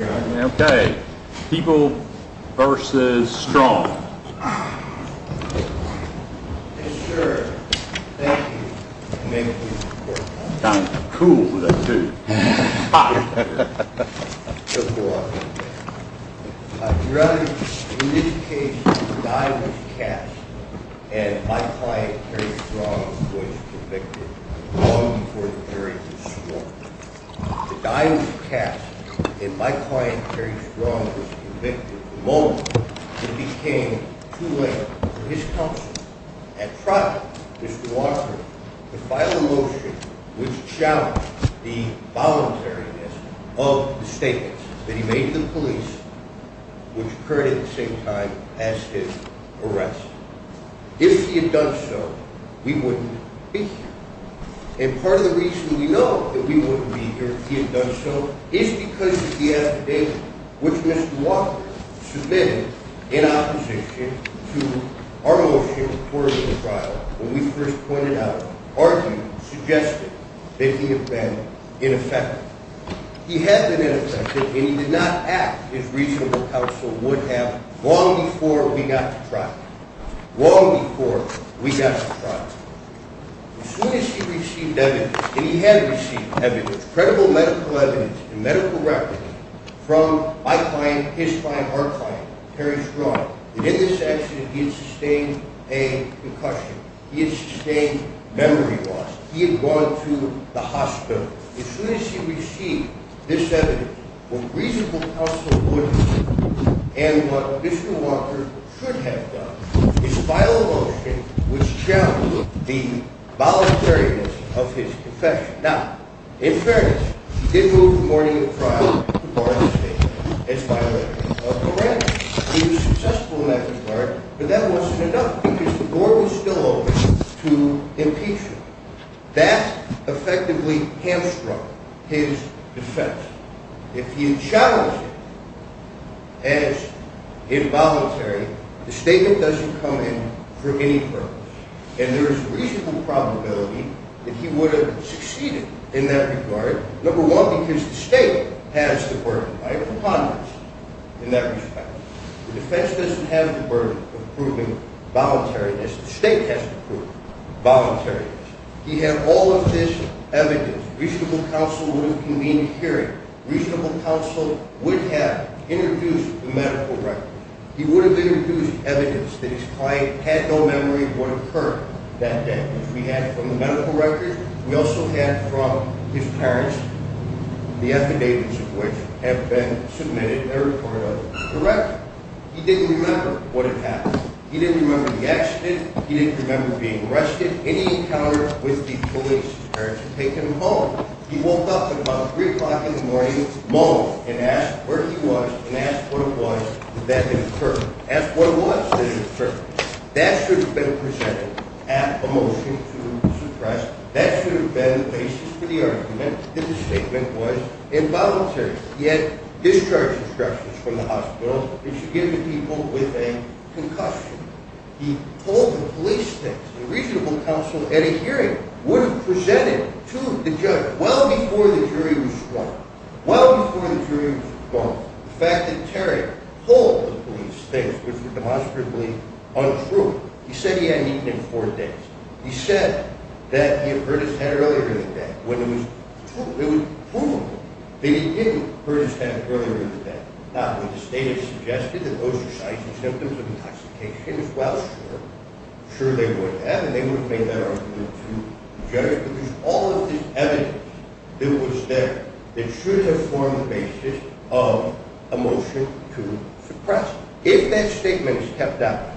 Okay. People v. Strong. Yes, sir. Thank you. Thank you for your support. Cool with that, too. Hot. Just a little hot right there. Your Honor, in this case, the die was cast, and my client, Terry Strong, was convicted. Long before Terry was sworn. The die was cast, and my client, Terry Strong, was convicted. The moment, it became too late for his counsel. At trial, Mr. Walker, the final motion, which challenged the voluntariness of the statements that he made to the police, which occurred at the same time as his arrest. If he had done so, we wouldn't be here. And part of the reason we know that we wouldn't be here if he had done so is because of the affidavit, which Mr. Walker submitted in opposition to our motion according to the trial, when we first pointed out, argued, suggested that he had been ineffective. He had been ineffective, and he did not act as reasonable counsel would have long before we got to trial. Long before we got to trial. As soon as he received evidence, and he had received evidence, credible medical evidence, and medical records from my client, his client, our client, Terry Strong, that in this accident he had sustained a concussion. He had sustained memory loss. He had gone to the hospital. As soon as he received this evidence, what reasonable counsel would have done, and what Mr. Walker should have done, is file a motion which challenged the voluntariness of his confession. Now, in fairness, he did move the morning of trial to bar his statement as violating a program. He was successful in that regard, but that wasn't enough because the door was still open to impeachment. That effectively hamstrung his defense. If he had challenged it as involuntary, the statement doesn't come in for any purpose, and there is a reasonable probability that he would have succeeded in that regard. Number one, because the state has the burden. By a preponderance in that respect, the defense doesn't have the burden of proving voluntariness. The state has to prove voluntariness. He had all of this evidence. Reasonable counsel would have convened a hearing. Reasonable counsel would have introduced the medical record. He would have introduced evidence that his client had no memory of what occurred that day. We had from the medical record. We also had from his parents, the affidavits of which have been submitted every quarter of the record. He didn't remember what had happened. He didn't remember the accident. He didn't remember being arrested. He didn't have any encounter with the police or to take him home. He woke up at about 3 o'clock in the morning, moaned, and asked where he was and asked what it was that had occurred. Asked what it was that had occurred. That should have been presented at a motion to suppress. That should have been the basis for the argument that the statement was involuntary. He had discharge instructions from the hospital. They should give the people with a concussion. He told the police things. A reasonable counsel at a hearing would have presented to the judge well before the jury was sworn. Well before the jury was sworn. The fact that Terry told the police things which were demonstrably untrue. He said he hadn't eaten in four days. He said that he had hurt his head earlier in the day when it was true. It was provable that he did hurt his head earlier in the day. Not that the state has suggested that those are signs and symptoms of intoxication. Well, sure. Sure they would have and they would have made that argument to the judge. But there's all of this evidence that was there that should have formed the basis of a motion to suppress. If that statement is kept out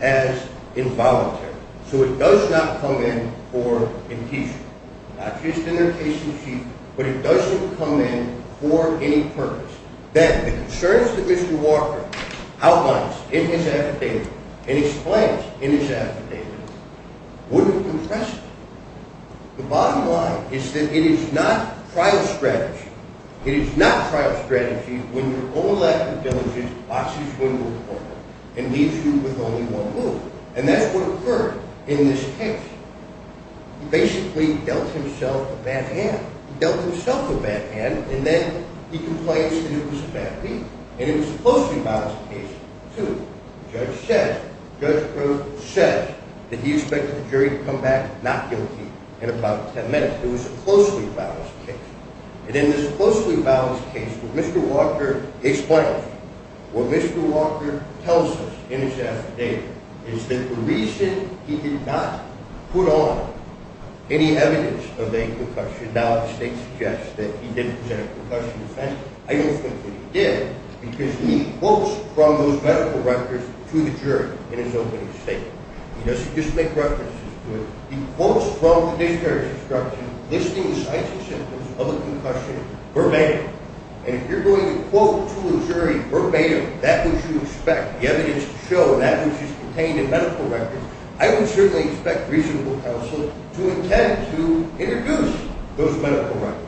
as involuntary, so it does not come in for impeachment. Not just in their case receipt, but it doesn't come in for any purpose. That the concerns that Mr. Walker outlines in his affidavit and explains in his affidavit wouldn't compress it. The bottom line is that it is not trial strategy. It is not trial strategy when your own lack of diligence boxes you into a corner and leaves you with only one move. And that's what occurred in this case. He basically dealt himself a bad hand. He dealt himself a bad hand and then he complains that it was a bad week. And it was a closely balanced case, too. The judge said, the judge said that he expected the jury to come back not guilty in about ten minutes. It was a closely balanced case. And in this closely balanced case, what Mr. Walker explains, what Mr. Walker tells us in his affidavit, is that the reason he did not put on any evidence of a concussion. Now the state suggests that he did present a concussion defense. I don't think that he did because he quotes from those medical records to the jury in his opening statement. He doesn't just make references to it. He quotes from the dictionary instruction listing the signs and symptoms of a concussion verbatim. And if you're going to quote to a jury verbatim that which you expect, the evidence to show that which is contained in medical records, I would certainly expect reasonable counsel to intend to introduce those medical records.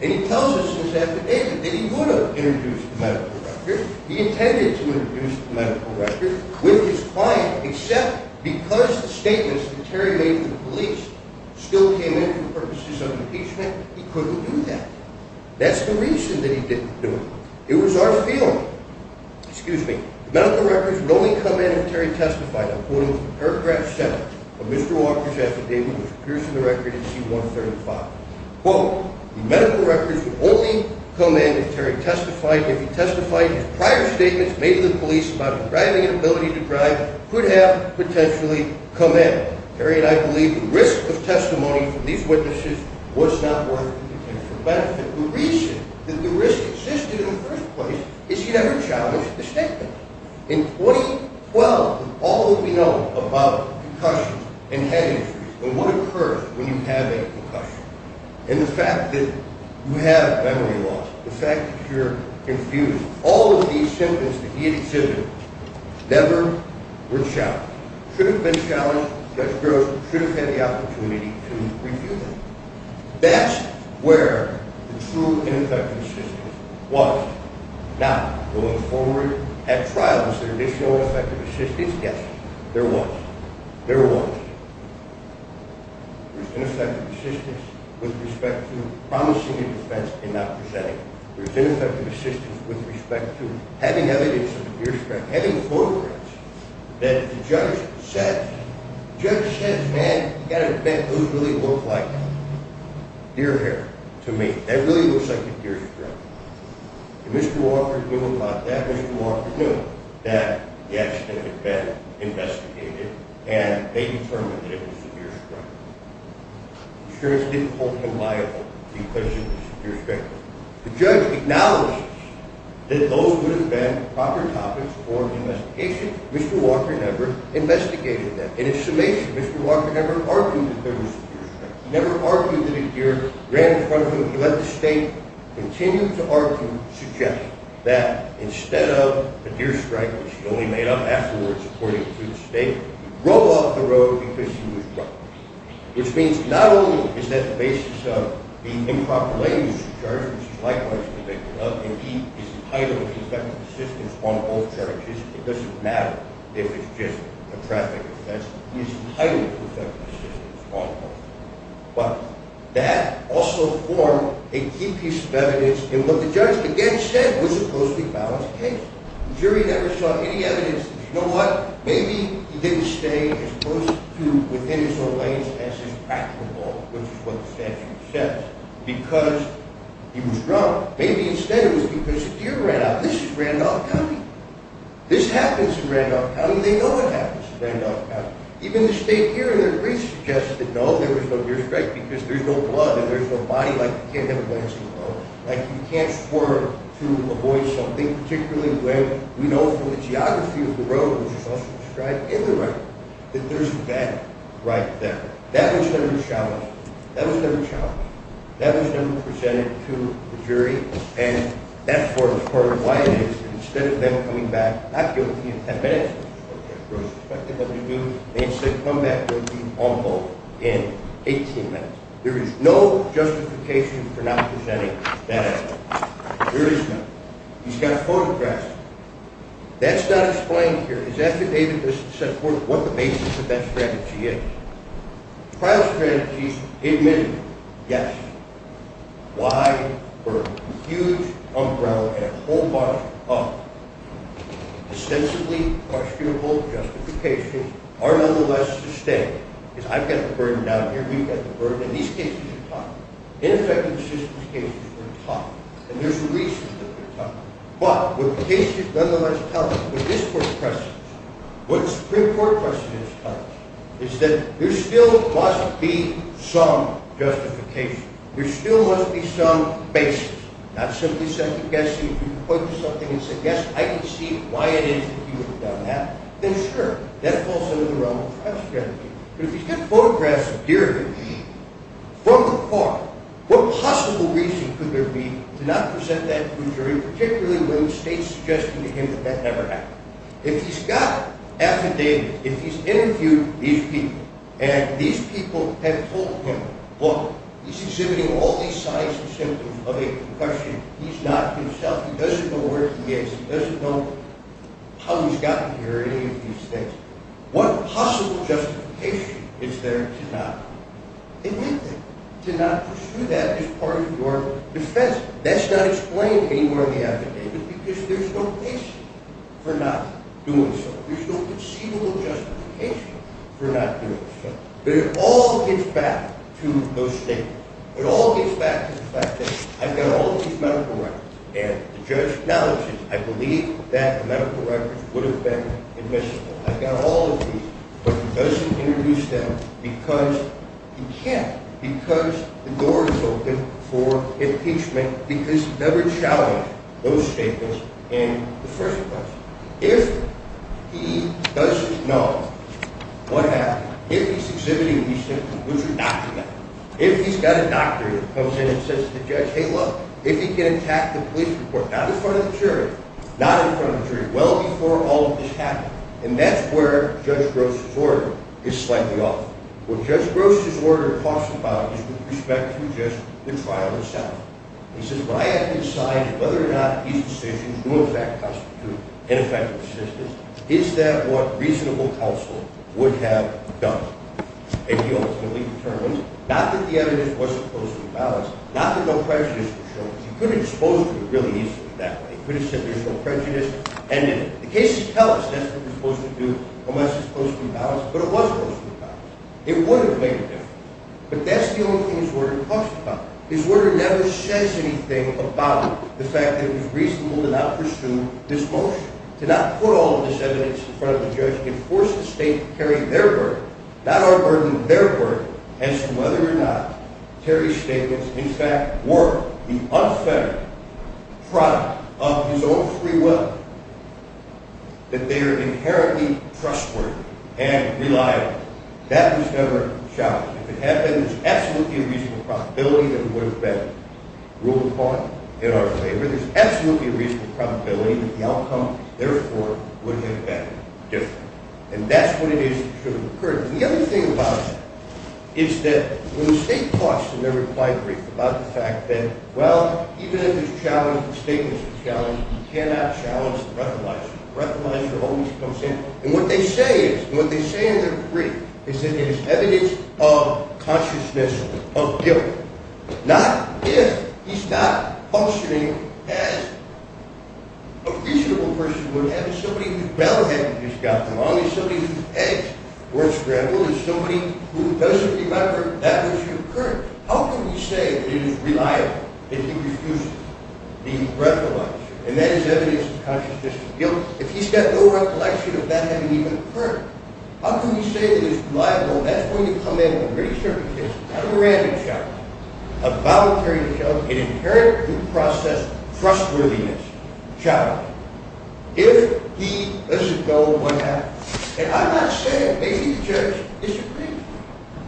And he tells us in his affidavit that he would have introduced the medical records. He intended to introduce the medical records with his client, except because the statements that Terry made to the police still came in for purposes of impeachment, he couldn't do that. That's the reason that he didn't do it. It was our feeling. Excuse me. The medical records would only come in if Terry testified, I'm quoting from paragraph 7 of Mr. Walker's affidavit, which appears in the record in C-135. Quote, the medical records would only come in if Terry testified. If he testified, his prior statements made to the police about his driving and ability to drive could have potentially come in. Terry and I believe the risk of testimony from these witnesses was not worth the potential benefit. The reason that the risk existed in the first place is he never challenged the statement. In 2012, all that we know about concussions and head injuries and what occurs when you have a concussion, and the fact that you have memory loss, the fact that you're confused, all of these symptoms that he exhibited never were challenged. Should have been challenged, Judge Gross should have had the opportunity to review them. That's where the true ineffective assistance was. Now, going forward at trial, is there additional effective assistance? Yes, there was. There was. There's ineffective assistance with respect to promising a defense and not presenting it. There was ineffective assistance with respect to having evidence of a deer strike, having photographs that the judge said, the judge said, man, you've got to admit, those really look like deer hair to me. That really looks like a deer strike. And Mr. Walker knew about that. Mr. Walker knew that the accident had been investigated, and they determined that it was a deer strike. Insurance didn't hold him liable because of the deer strike. The judge acknowledges that those would have been proper topics for investigation. Mr. Walker never investigated that. And in summation, Mr. Walker never argued that there was a deer strike. He never argued that a deer ran in front of him. He let the state continue to argue, suggest that instead of a deer strike, which he only made up afterwards, according to the state, he drove off the road because he was drunk. Which means not only is that the basis of the improper language of the judge, which is likewise convicted of, and he is entitled to effective assistance on both charges. It doesn't matter if it's just a traffic offense. He is entitled to effective assistance on both. But that also formed a key piece of evidence in what the judge, again, said was a closely balanced case. The jury never saw any evidence that, you know what, maybe he didn't stay as close to within his own lanes as is practicable, which is what the statute says, because he was drunk. Maybe instead it was because a deer ran out. This is Randolph County. This happens in Randolph County. They know it happens in Randolph County. Even the state hearing in Greece suggested, no, there was no deer strike because there's no blood and there's no body, like, you can't have a landscape road. Like, you can't swerve to avoid something, particularly where we know from the geography of the road, which is also described in the record, that there's a bed right there. That was never challenged. That was never challenged. That was never presented to the jury. And that's part of why it is that instead of them coming back not guilty in 10 minutes, which is what they were expected them to do, they instead come back guilty on both in 18 minutes. There is no justification for not presenting that evidence. There is none. He's got photographs. That's not explained here. His affidavit doesn't set forth what the basis of that strategy is. Trial strategies, admittedly, yes. Why? Burden. A huge umbrella and a whole bunch of ostensibly questionable justifications are, nonetheless, sustained. Because I've got the burden down here. You've got the burden. And these cases are tough. Infection assistance cases are tough. And there's a reason that they're tough. But what the case is nonetheless telling me, what this court questions, what the Supreme Court question is telling me, is that there still must be some justification. There still must be some basis. Not simply second-guessing. If you point to something and say, yes, I can see why it is that he would have done that, then sure. That falls under the realm of trial strategy. But if he's got photographs here, from afar, what possible reason could there be to not present that injury, particularly when the state's suggesting to him that that never happened? If he's got affidavits, if he's interviewed these people, and these people have told him, look, he's exhibiting all these signs and symptoms of a concussion. He's not himself. He doesn't know where he is. He doesn't know how he's gotten here or any of these things. What possible justification is there to not admit that? To not pursue that as part of your defense? That's not explained anywhere in the affidavit, because there's no basis for not doing so. There's no conceivable justification for not doing so. But it all gets back to those statements. It all gets back to the fact that I've got all these medical records, and the judge acknowledges, I believe that the medical records would have been admissible. I've got all of these, but he doesn't introduce them because he can't. Because the door is open for impeachment, because he's never challenged those statements in the first place. If he doesn't know what happened, if he's exhibiting these symptoms, which are documented, if he's got a doctor that comes in and says to the judge, hey, look, if he can attack the police report, not in front of the jury, not in front of the jury, well before all of this happened, and that's where Judge Gross' order is slightly off. What Judge Gross' order talks about is with respect to just the trial itself. He says, what I have to decide is whether or not these decisions do in fact constitute ineffective assistance. Is that what reasonable counsel would have done? And he ultimately determines, not that the evidence wasn't closely balanced, not that no prejudice was shown. He could have exposed it really easily that way. He could have said there's no prejudice, and if the cases tell us that's what we're supposed to do, unless it's closely balanced, but it was closely balanced, it would have made a difference. But that's the only thing his order talks about. His order never says anything about the fact that it was reasonable to not pursue this motion, to not put all of this evidence in front of the judge and force the state to carry their burden, not our burden, their burden, as to whether or not Terry's statements, in fact, were the unfettered product of his own free will, that they are inherently trustworthy and reliable. That was never challenged. If it had been, there's absolutely a reasonable probability that it would have been ruled upon in our favor. There's absolutely a reasonable probability that the outcome, therefore, would have been different. And that's what it is that should have occurred. The other thing about it is that when the state talks in their reply brief about the fact that, well, even if it's challenged, the statement's been challenged, you cannot challenge the recognizer. The recognizer always comes in, and what they say is, and what they say in their brief, is that there's evidence of consciousness of guilt. Not if he's not functioning as a reasonable person would have, as somebody whose bell hadn't just gotten rung, as somebody whose eggs weren't scrambled, as somebody who doesn't remember that was the occurrence. How can we say that it is reliable if he refused to be recognized? And that is evidence of consciousness of guilt. If he's got no recollection of that having even occurred, how can we say that it is reliable? And that's when you come in with a pretty certain case, not a random challenge, a voluntary challenge, an inherent due process trustworthiness challenge. If he doesn't go, what happens? And I'm not saying maybe the judge disagrees.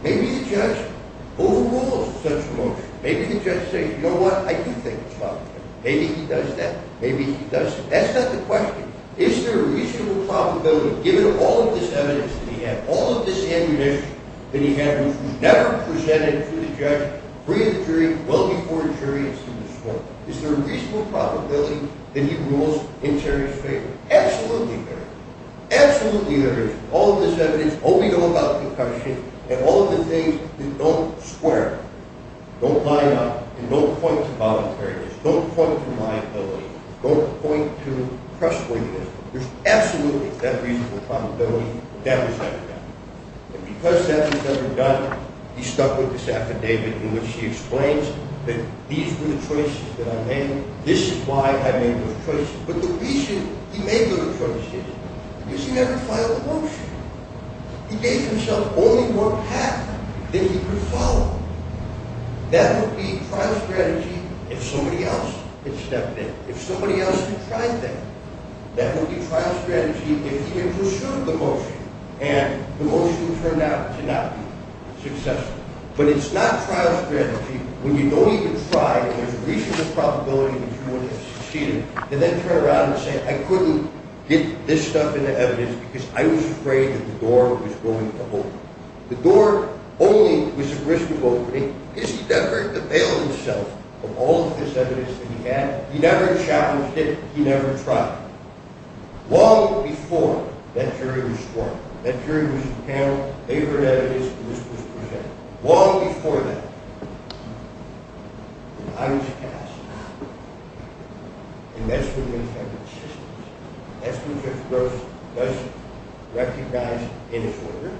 Maybe the judge overrules such a motion. Maybe the judge says, you know what, I do think it's voluntary. Maybe he does that. Maybe he doesn't. That's not the question. Is there a reasonable probability, given all of this evidence that he had, all of this ammunition that he had, which was never presented to the judge, free of jury, well before a jury is to be sworn, is there a reasonable probability that he rules in Terry's favor? Absolutely there is. Absolutely there is. All of this evidence, all we know about concussion, and all of the things that don't square, don't line up, and don't point to voluntariness, don't point to liability, don't point to trustworthiness, there's absolutely that reasonable probability that that was never done. And because that was never done, he's stuck with this affidavit in which he explains that these were the choices that I made, this is why I made those choices. But the reason he made those choices is because he never filed a motion. He gave himself only one path that he could follow. That would be trial strategy if somebody else had stepped in, if somebody else had tried that. That would be trial strategy if he had pursued the motion and the motion turned out to not be successful. But it's not trial strategy when you don't even try and there's a reasonable probability that you would have succeeded and then turn around and say, I couldn't get this stuff in the evidence because I was afraid that the door was going to open. The door only was at risk of opening because he never availed himself of all of this evidence that he had. He never challenged it. He never tried. Long before that jury was sworn, that jury was paneled, they were in evidence, and this was presented. Long before that. I was cast. And that's what makes that consistent. That's what makes those most recognized in this order.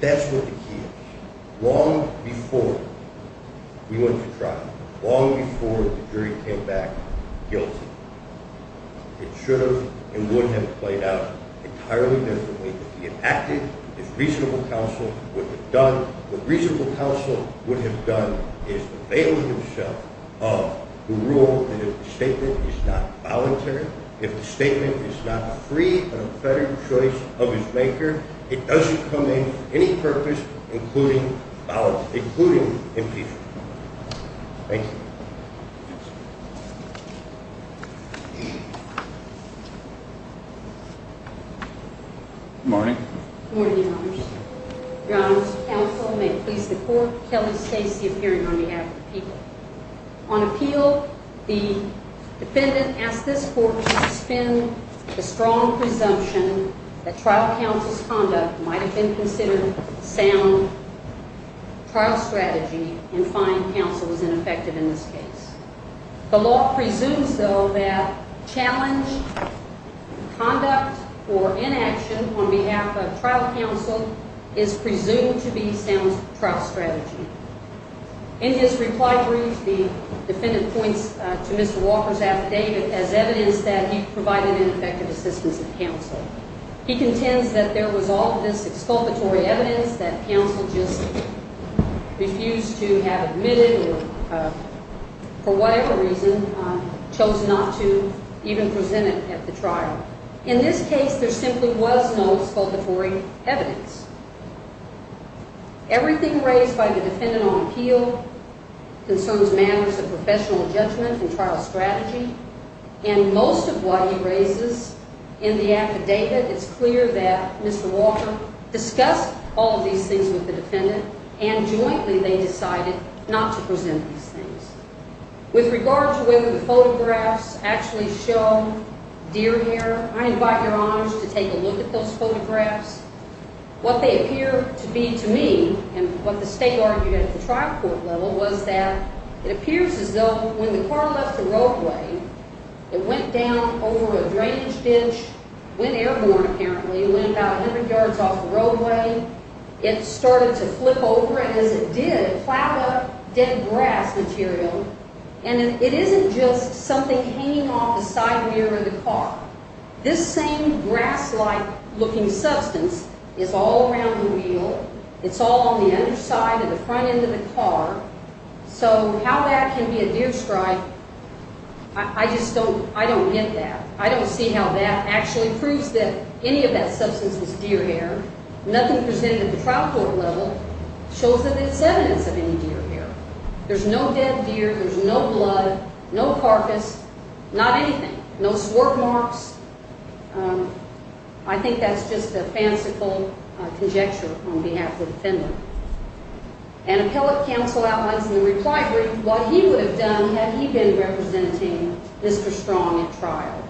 That's what the key is. Long before we went to trial. Long before the jury came back guilty. It should have and would have played out entirely differently if he had acted as reasonable counsel would have done. What reasonable counsel would have done is avail himself of the rule that if the statement is not voluntary, if the statement is not free of a federal choice of its maker, it doesn't come in for any purpose including impeachment. Thank you. Good morning. Good morning, Your Honors. Your Honors, counsel may please report Kelly Stacey appearing on behalf of the people. On appeal, the defendant asked this court to suspend the strong presumption that trial counsel's conduct might have been considered sound trial strategy and find counsel was ineffective in this case. The law presumes though that challenge, conduct or inaction on behalf of trial counsel is presumed to be sound trial strategy. In his reply brief, the defendant points to Mr. Walker's affidavit as evidence that he provided ineffective assistance to counsel. He contends that there was all of this exculpatory evidence that counsel just refused to have admitted or for whatever reason chose not to even present it at the trial. In this case, there simply was no exculpatory evidence. Everything raised by the defendant on appeal concerns matters of professional judgment and trial strategy and most of what he raises in the affidavit is clear that Mr. Walker discussed all of these things with the defendant and jointly they decided not to present these things. With regard to whether the photographs actually show deer hair, I invite your honors to take a look at those photographs. What they appear to be to me and what the state argued at the trial court level was that it appears as though when the car left the roadway, it went down over a drainage ditch, went airborne apparently, went about 100 yards off the roadway. It started to flip over and as it did, plowed up dead grass material and it isn't just something hanging off the side mirror of the car. This same grass-like looking substance is all around the wheel. It's all on the underside of the front end of the car. So how that can be a deer stripe, I just don't get that. I don't see how that actually proves that any of that substance is deer hair. Nothing presented at the trial court level shows that it's evidence of any deer hair. There's no dead deer, there's no blood, no carcass, not anything. No swerve marks. I think that's just a fanciful conjecture on behalf of the defendant. And appellate counsel outlines in the reply brief what he would have done had he been representing Mr. Strong at trial.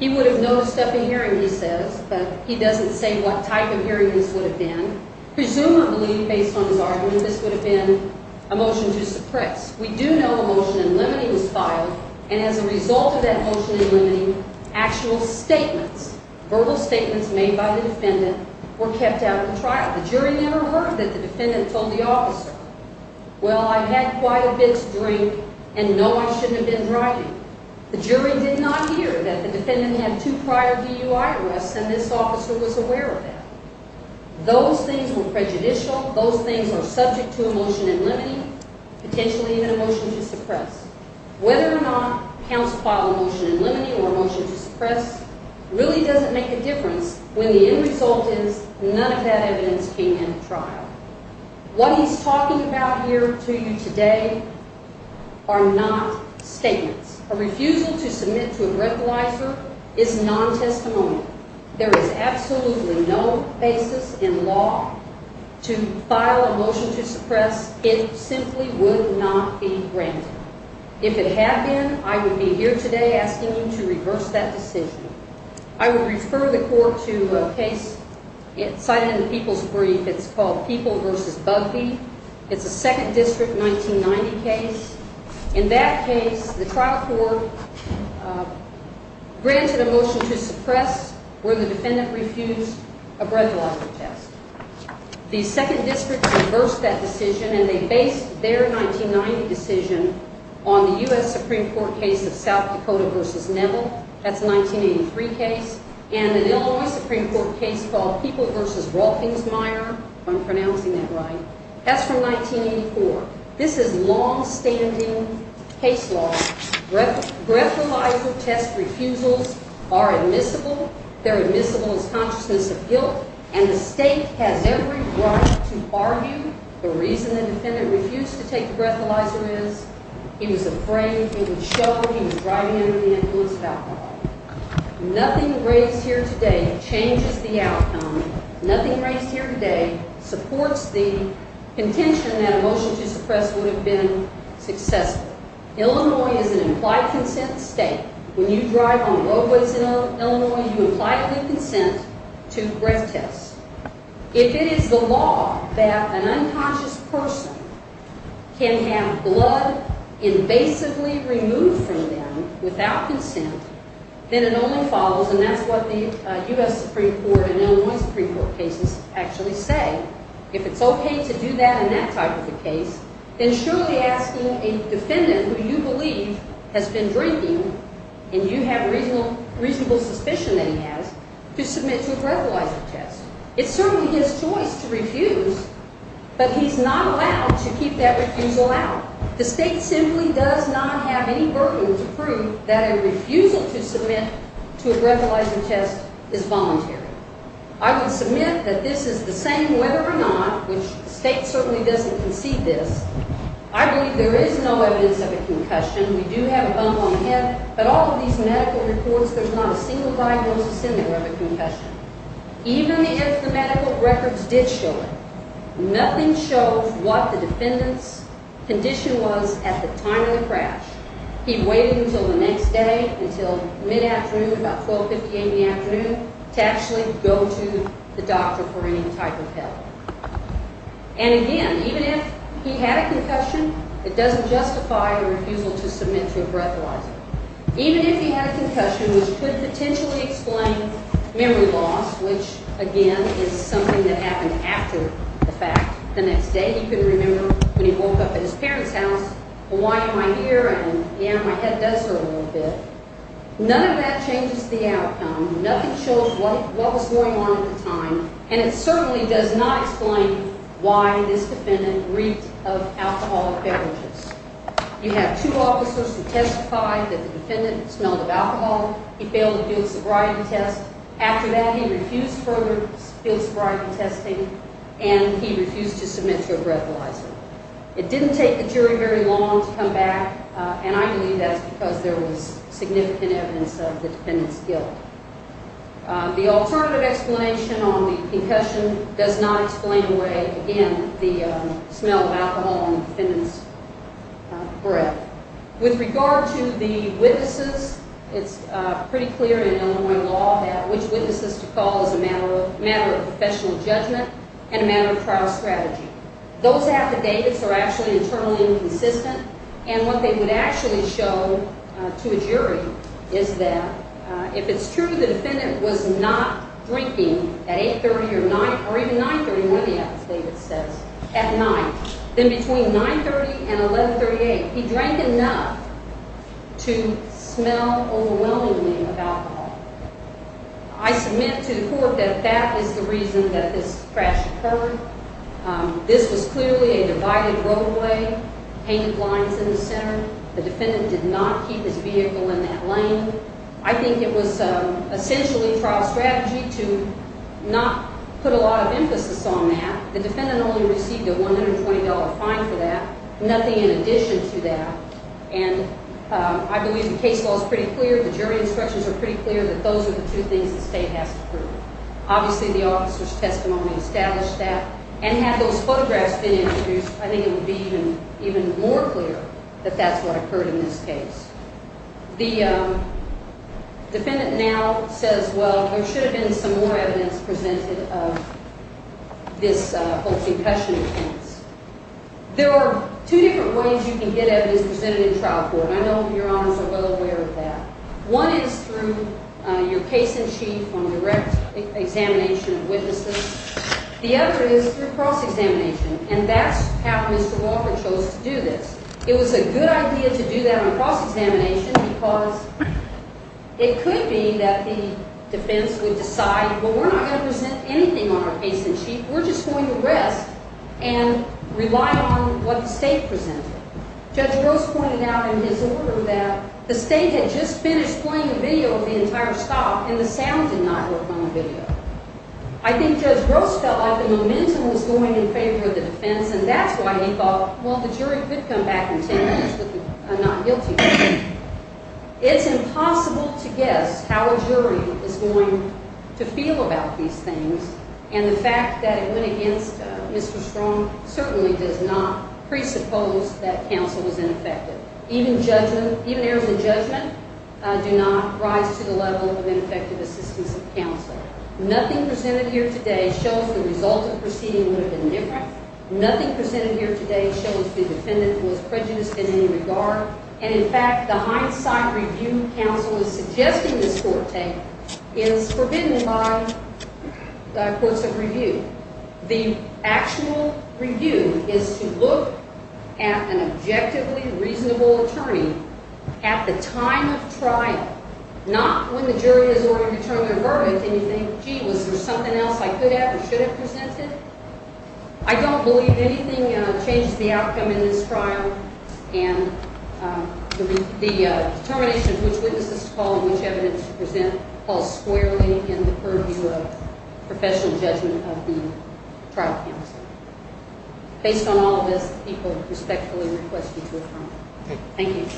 He would have noticed up in hearing, he says, but he doesn't say what type of hearing this would have been. Presumably, based on his argument, this would have been a motion to suppress. We do know a motion in limine was filed and as a result of that motion in limine, actual statements, verbal statements made by the defendant, were kept out of the trial. The jury never heard that the defendant told the officer, well, I had quite a bit to drink and no, I shouldn't have been driving. The jury did not hear that the defendant had two prior DUI arrests and this officer was aware of that. Those things were prejudicial. Those things are subject to a motion in limine, potentially even a motion to suppress. Whether or not counsel filed a motion in limine or a motion to suppress, really doesn't make a difference when the end result is none of that evidence came in at trial. What he's talking about here to you today are not statements. A refusal to submit to a breathalyzer is non-testimony. There is absolutely no basis in law to file a motion to suppress. It simply would not be granted. If it had been, I would be here today asking you to reverse that decision. I would refer the court to a case cited in the People's Brief. It's called People v. Bugbee. It's a 2nd District 1990 case. In that case, the trial court granted a motion to suppress where the defendant refused a breathalyzer test. The 2nd District reversed that decision and they based their 1990 decision on the U.S. Supreme Court case of South Dakota v. Neville. That's a 1983 case. And an Illinois Supreme Court case called People v. Rolfingsmeier. I'm pronouncing that right. That's from 1984. This is long-standing case law. Breathalyzer test refusals are admissible. They're admissible as consciousness of guilt. And the state has every right to argue the reason the defendant refused to take the breathalyzer is he was afraid, he was shuddered, he was driving under the influence of alcohol. Nothing raised here today changes the outcome. Nothing raised here today supports the contention that a motion to suppress would have been successful. Illinois is an implied consent state. When you drive on roadways in Illinois, you imply a new consent to breath tests. If it is the law that an unconscious person can have blood invasively removed from them without consent, then it only follows, and that's what the U.S. Supreme Court and Illinois Supreme Court cases actually say, if it's okay to do that in that type of a case, then surely asking a defendant who you believe has been drinking and you have reasonable suspicion that he has to submit to a breathalyzer test. It's certainly his choice to refuse, but he's not allowed to keep that refusal out. The state simply does not have any burden to prove that a refusal to submit to a breathalyzer test is voluntary. I would submit that this is the same whether or not, which the state certainly doesn't concede this, I believe there is no evidence of a concussion. We do have a bump on the head, but all of these medical reports, there's not a single diagnosis in there of a concussion, even if the medical records did show it. Nothing shows what the defendant's condition was at the time of the crash. He waited until the next day, until mid-afternoon, about 12.58 in the afternoon, to actually go to the doctor for any type of help. And again, even if he had a concussion, it doesn't justify a refusal to submit to a breathalyzer. Even if he had a concussion, which could potentially explain memory loss, which again is something that happened after the fact, the next day he couldn't remember when he woke up at his parents' house, or why am I here, and yeah, my head does hurt a little bit. None of that changes the outcome. Nothing shows what was going on at the time, and it certainly does not explain why this defendant reeked of alcohol and beverages. You have two officers who testified that the defendant smelled of alcohol. He failed the field sobriety test. After that, he refused further field sobriety testing, and he refused to submit to a breathalyzer. It didn't take the jury very long to come back, and I believe that's because there was significant evidence of the defendant's guilt. The alternative explanation on the concussion does not explain away, again, the smell of alcohol on the defendant's breath. With regard to the witnesses, it's pretty clear in Illinois law which witnesses to call is a matter of professional judgment and a matter of trial strategy. Those affidavits are actually internally inconsistent, and what they would actually show to a jury is that if it's true the defendant was not drinking at 8.30 or 9.00, or even 9.30, one of the affidavits says, at night, then between 9.30 and 11.38, he drank enough to smell overwhelmingly of alcohol. I submit to the court that that is the reason that this crash occurred. This was clearly a divided roadway, painted lines in the center. The defendant did not keep his vehicle in that lane. I think it was essentially trial strategy to not put a lot of emphasis on that. The defendant only received a $120 fine for that, nothing in addition to that, and I believe the case law is pretty clear, the jury instructions are pretty clear that those are the two things the state has to prove. Obviously, the officer's testimony established that, and had those photographs been introduced, I think it would be even more clear that that's what occurred in this case. The defendant now says, well, there should have been some more evidence presented of this whole concussion instance. There are two different ways you can get evidence presented in trial court, and I know your honors are well aware of that. One is through your case in chief on direct examination of witnesses. The other is through cross-examination, and that's how Mr. Walker chose to do this. It was a good idea to do that on cross-examination because it could be that the defense would decide, well, we're not going to present anything on our case in chief, we're just going to rest and rely on what the state presented. Judge Gross pointed out in his order that the state had just finished playing a video of the entire stop, and the sound did not work on the video. I think Judge Gross felt like the momentum was going in favor of the defense, and that's why he thought, well, the jury could come back in 10 minutes with a not guilty verdict. It's impossible to guess how a jury is going to feel about these things, and the fact that it went against Mr. Strong certainly does not presuppose that counsel was ineffective. Even errors in judgment do not rise to the level of ineffective assistance of counsel. Nothing presented here today shows the result of the proceeding would have been different. Nothing presented here today shows the defendant was prejudiced in any regard, and in fact, the hindsight review counsel is suggesting this court take is forbidden by courts of review. The actual review is to look at an objectively reasonable attorney at the time of trial, not when the jury has already determined their verdict, and you think, gee, was there something else I could have or should have presented? I don't believe anything changes the outcome in this trial, and the determination of which witnesses to call and which evidence to present falls squarely in the purview of professional judgment of the trial counsel. Based on all this, people respectfully request you to adjourn. Thank you.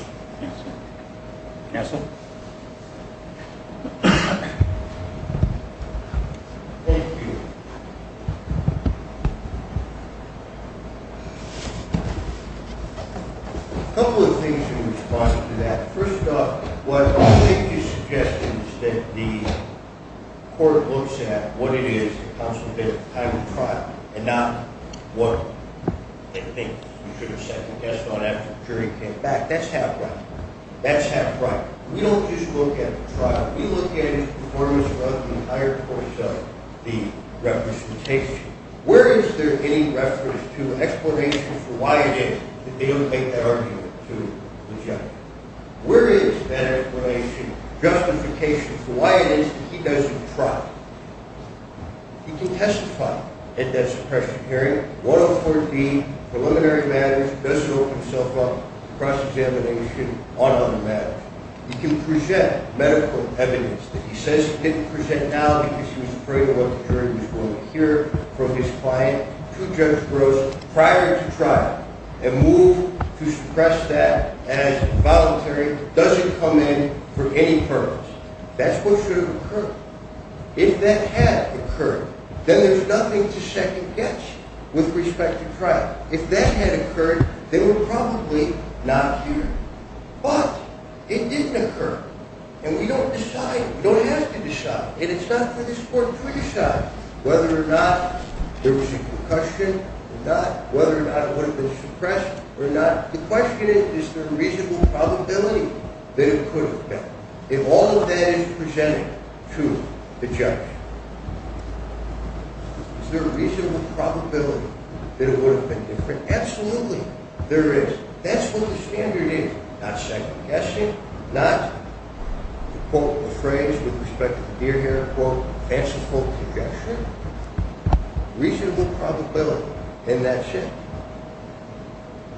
Counsel? Thank you. A couple of things in response to that. First off, what I'll make is suggestions that the court looks at what it is that counsel did at the time of trial and not what they think you should have said. That's not after the jury came back. That's half right. That's half right. We don't just look at the trial. We look at his performance throughout the entire course of the representation. Where is there any reference to an explanation for why it is that they don't make that argument to the judge? Where is that explanation, justification, for why it is that he doesn't try? He can testify at that suppression hearing, 104B, preliminary matters, does it open himself up to cross-examination on other matters. He can present medical evidence that he says he didn't present now because he was afraid of what the jury was going to hear from his client to Judge Gross prior to trial and move to suppress that as voluntary, doesn't come in for any purpose. That's what should have occurred. If that had occurred, then there's nothing to second-guess with respect to trial. If that had occurred, they were probably not here. But it didn't occur, and we don't decide, we don't have to decide, and it's not for this court to decide whether or not there was a concussion or not, whether or not it would have been suppressed or not. The question is, is there a reasonable probability that it could have been? If all of that is presented to the judge, is there a reasonable probability that it would have been different? Absolutely, there is. That's what the standard is, not second-guessing, not, to quote a phrase with respect to the deer here, quote, fanciful projection. The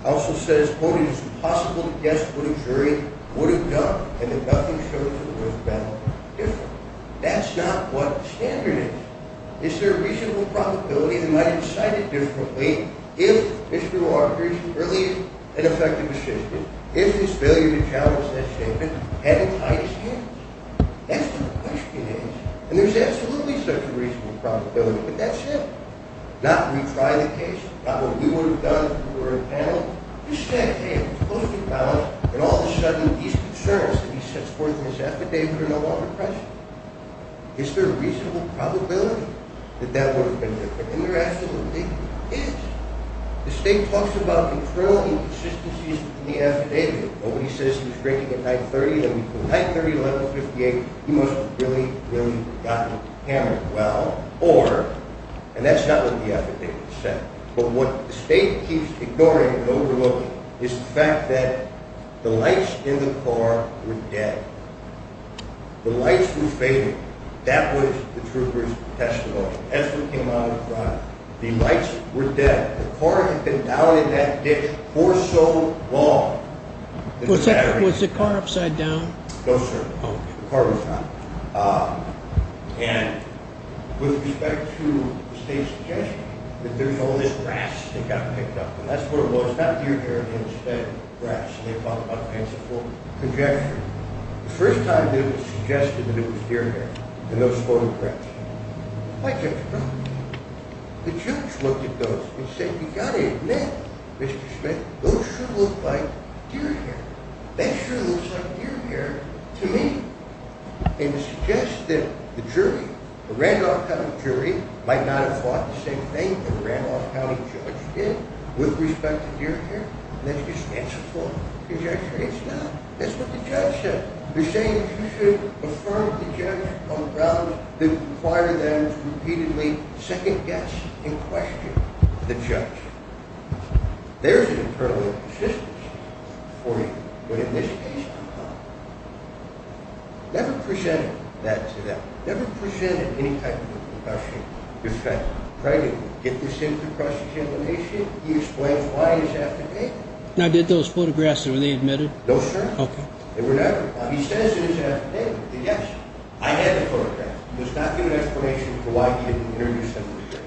counsel says, quote, it's impossible to guess what a jury would have done and that nothing shows that it would have been different. That's not what the standard is. Is there a reasonable probability they might have decided differently if Mr. Walker's early and effective assistance, if his failure to challenge that statement, hadn't tied his hands? That's what the question is. And there's absolutely such a reasonable probability, but that's it. Not retry the case, not what we would have done if we were in panel. You said, hey, it's closely balanced, and all of a sudden these concerns that he sets forth in his affidavit are no longer a question. Is there a reasonable probability that that would have been different? And there absolutely is. The state talks about internal inconsistencies in the affidavit. Nobody says he's drinking at night 30, that between night 30 and 11.58, he must have really, really gotten hammered. Or, and that's not what the affidavit said, but what the state keeps ignoring and overlooking is the fact that the lights in the car were dead. The lights were fading. That was the truth of the testimony. As we came out of the crime, the lights were dead. The car had been down in that ditch for so long. Was the car upside down? No, sir. The car was not. And with respect to the state's intention, that there's all this grass that got picked up, and that's what it was. Not deer hair, but instead grass, and they talk about pants that were full of conjecture. The first time that it was suggested that it was deer hair, and those photographs, quite different. The judge looked at those and said, you've got to admit, Mr. Schmidt, those sure look like deer hair. That sure looks like deer hair to me. And to suggest that the jury, the Randolph County jury, might not have thought the same thing that the Randolph County judge did with respect to deer hair, and that's just answer for conjecture. It's not. That's what the judge said. They're saying that you should affirm the judge on grounds that it required them to repeatedly second-guess and question the judge. There's an internal inconsistency for you, but in this case, no. Never presented that to them. Never presented any type of a concussion. Get this in for cross-examination. He explains why in his affidavit. Now, did those photographs, were they admitted? No, sir. They were never. He says in his affidavit that, yes, I had the photographs. He does not give an explanation for why he didn't introduce them to the jury.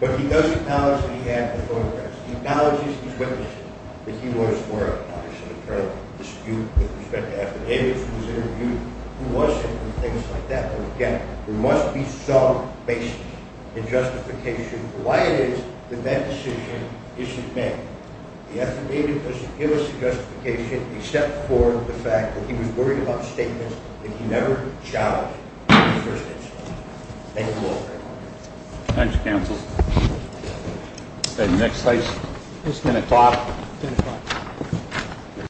But he does acknowledge that he had the photographs. He acknowledges his witnessing that he was, were a part of some internal dispute with respect to affidavits that was interviewed. He wasn't and things like that. But again, there must be some basis in justification for why it is that that decision isn't made. The affidavit doesn't give us a justification except for the fact that he was worried about statements that he never challenged in his first instance. Thank you all very much. Thank you, counsel. Is there any next case? 10 o'clock. 10 o'clock.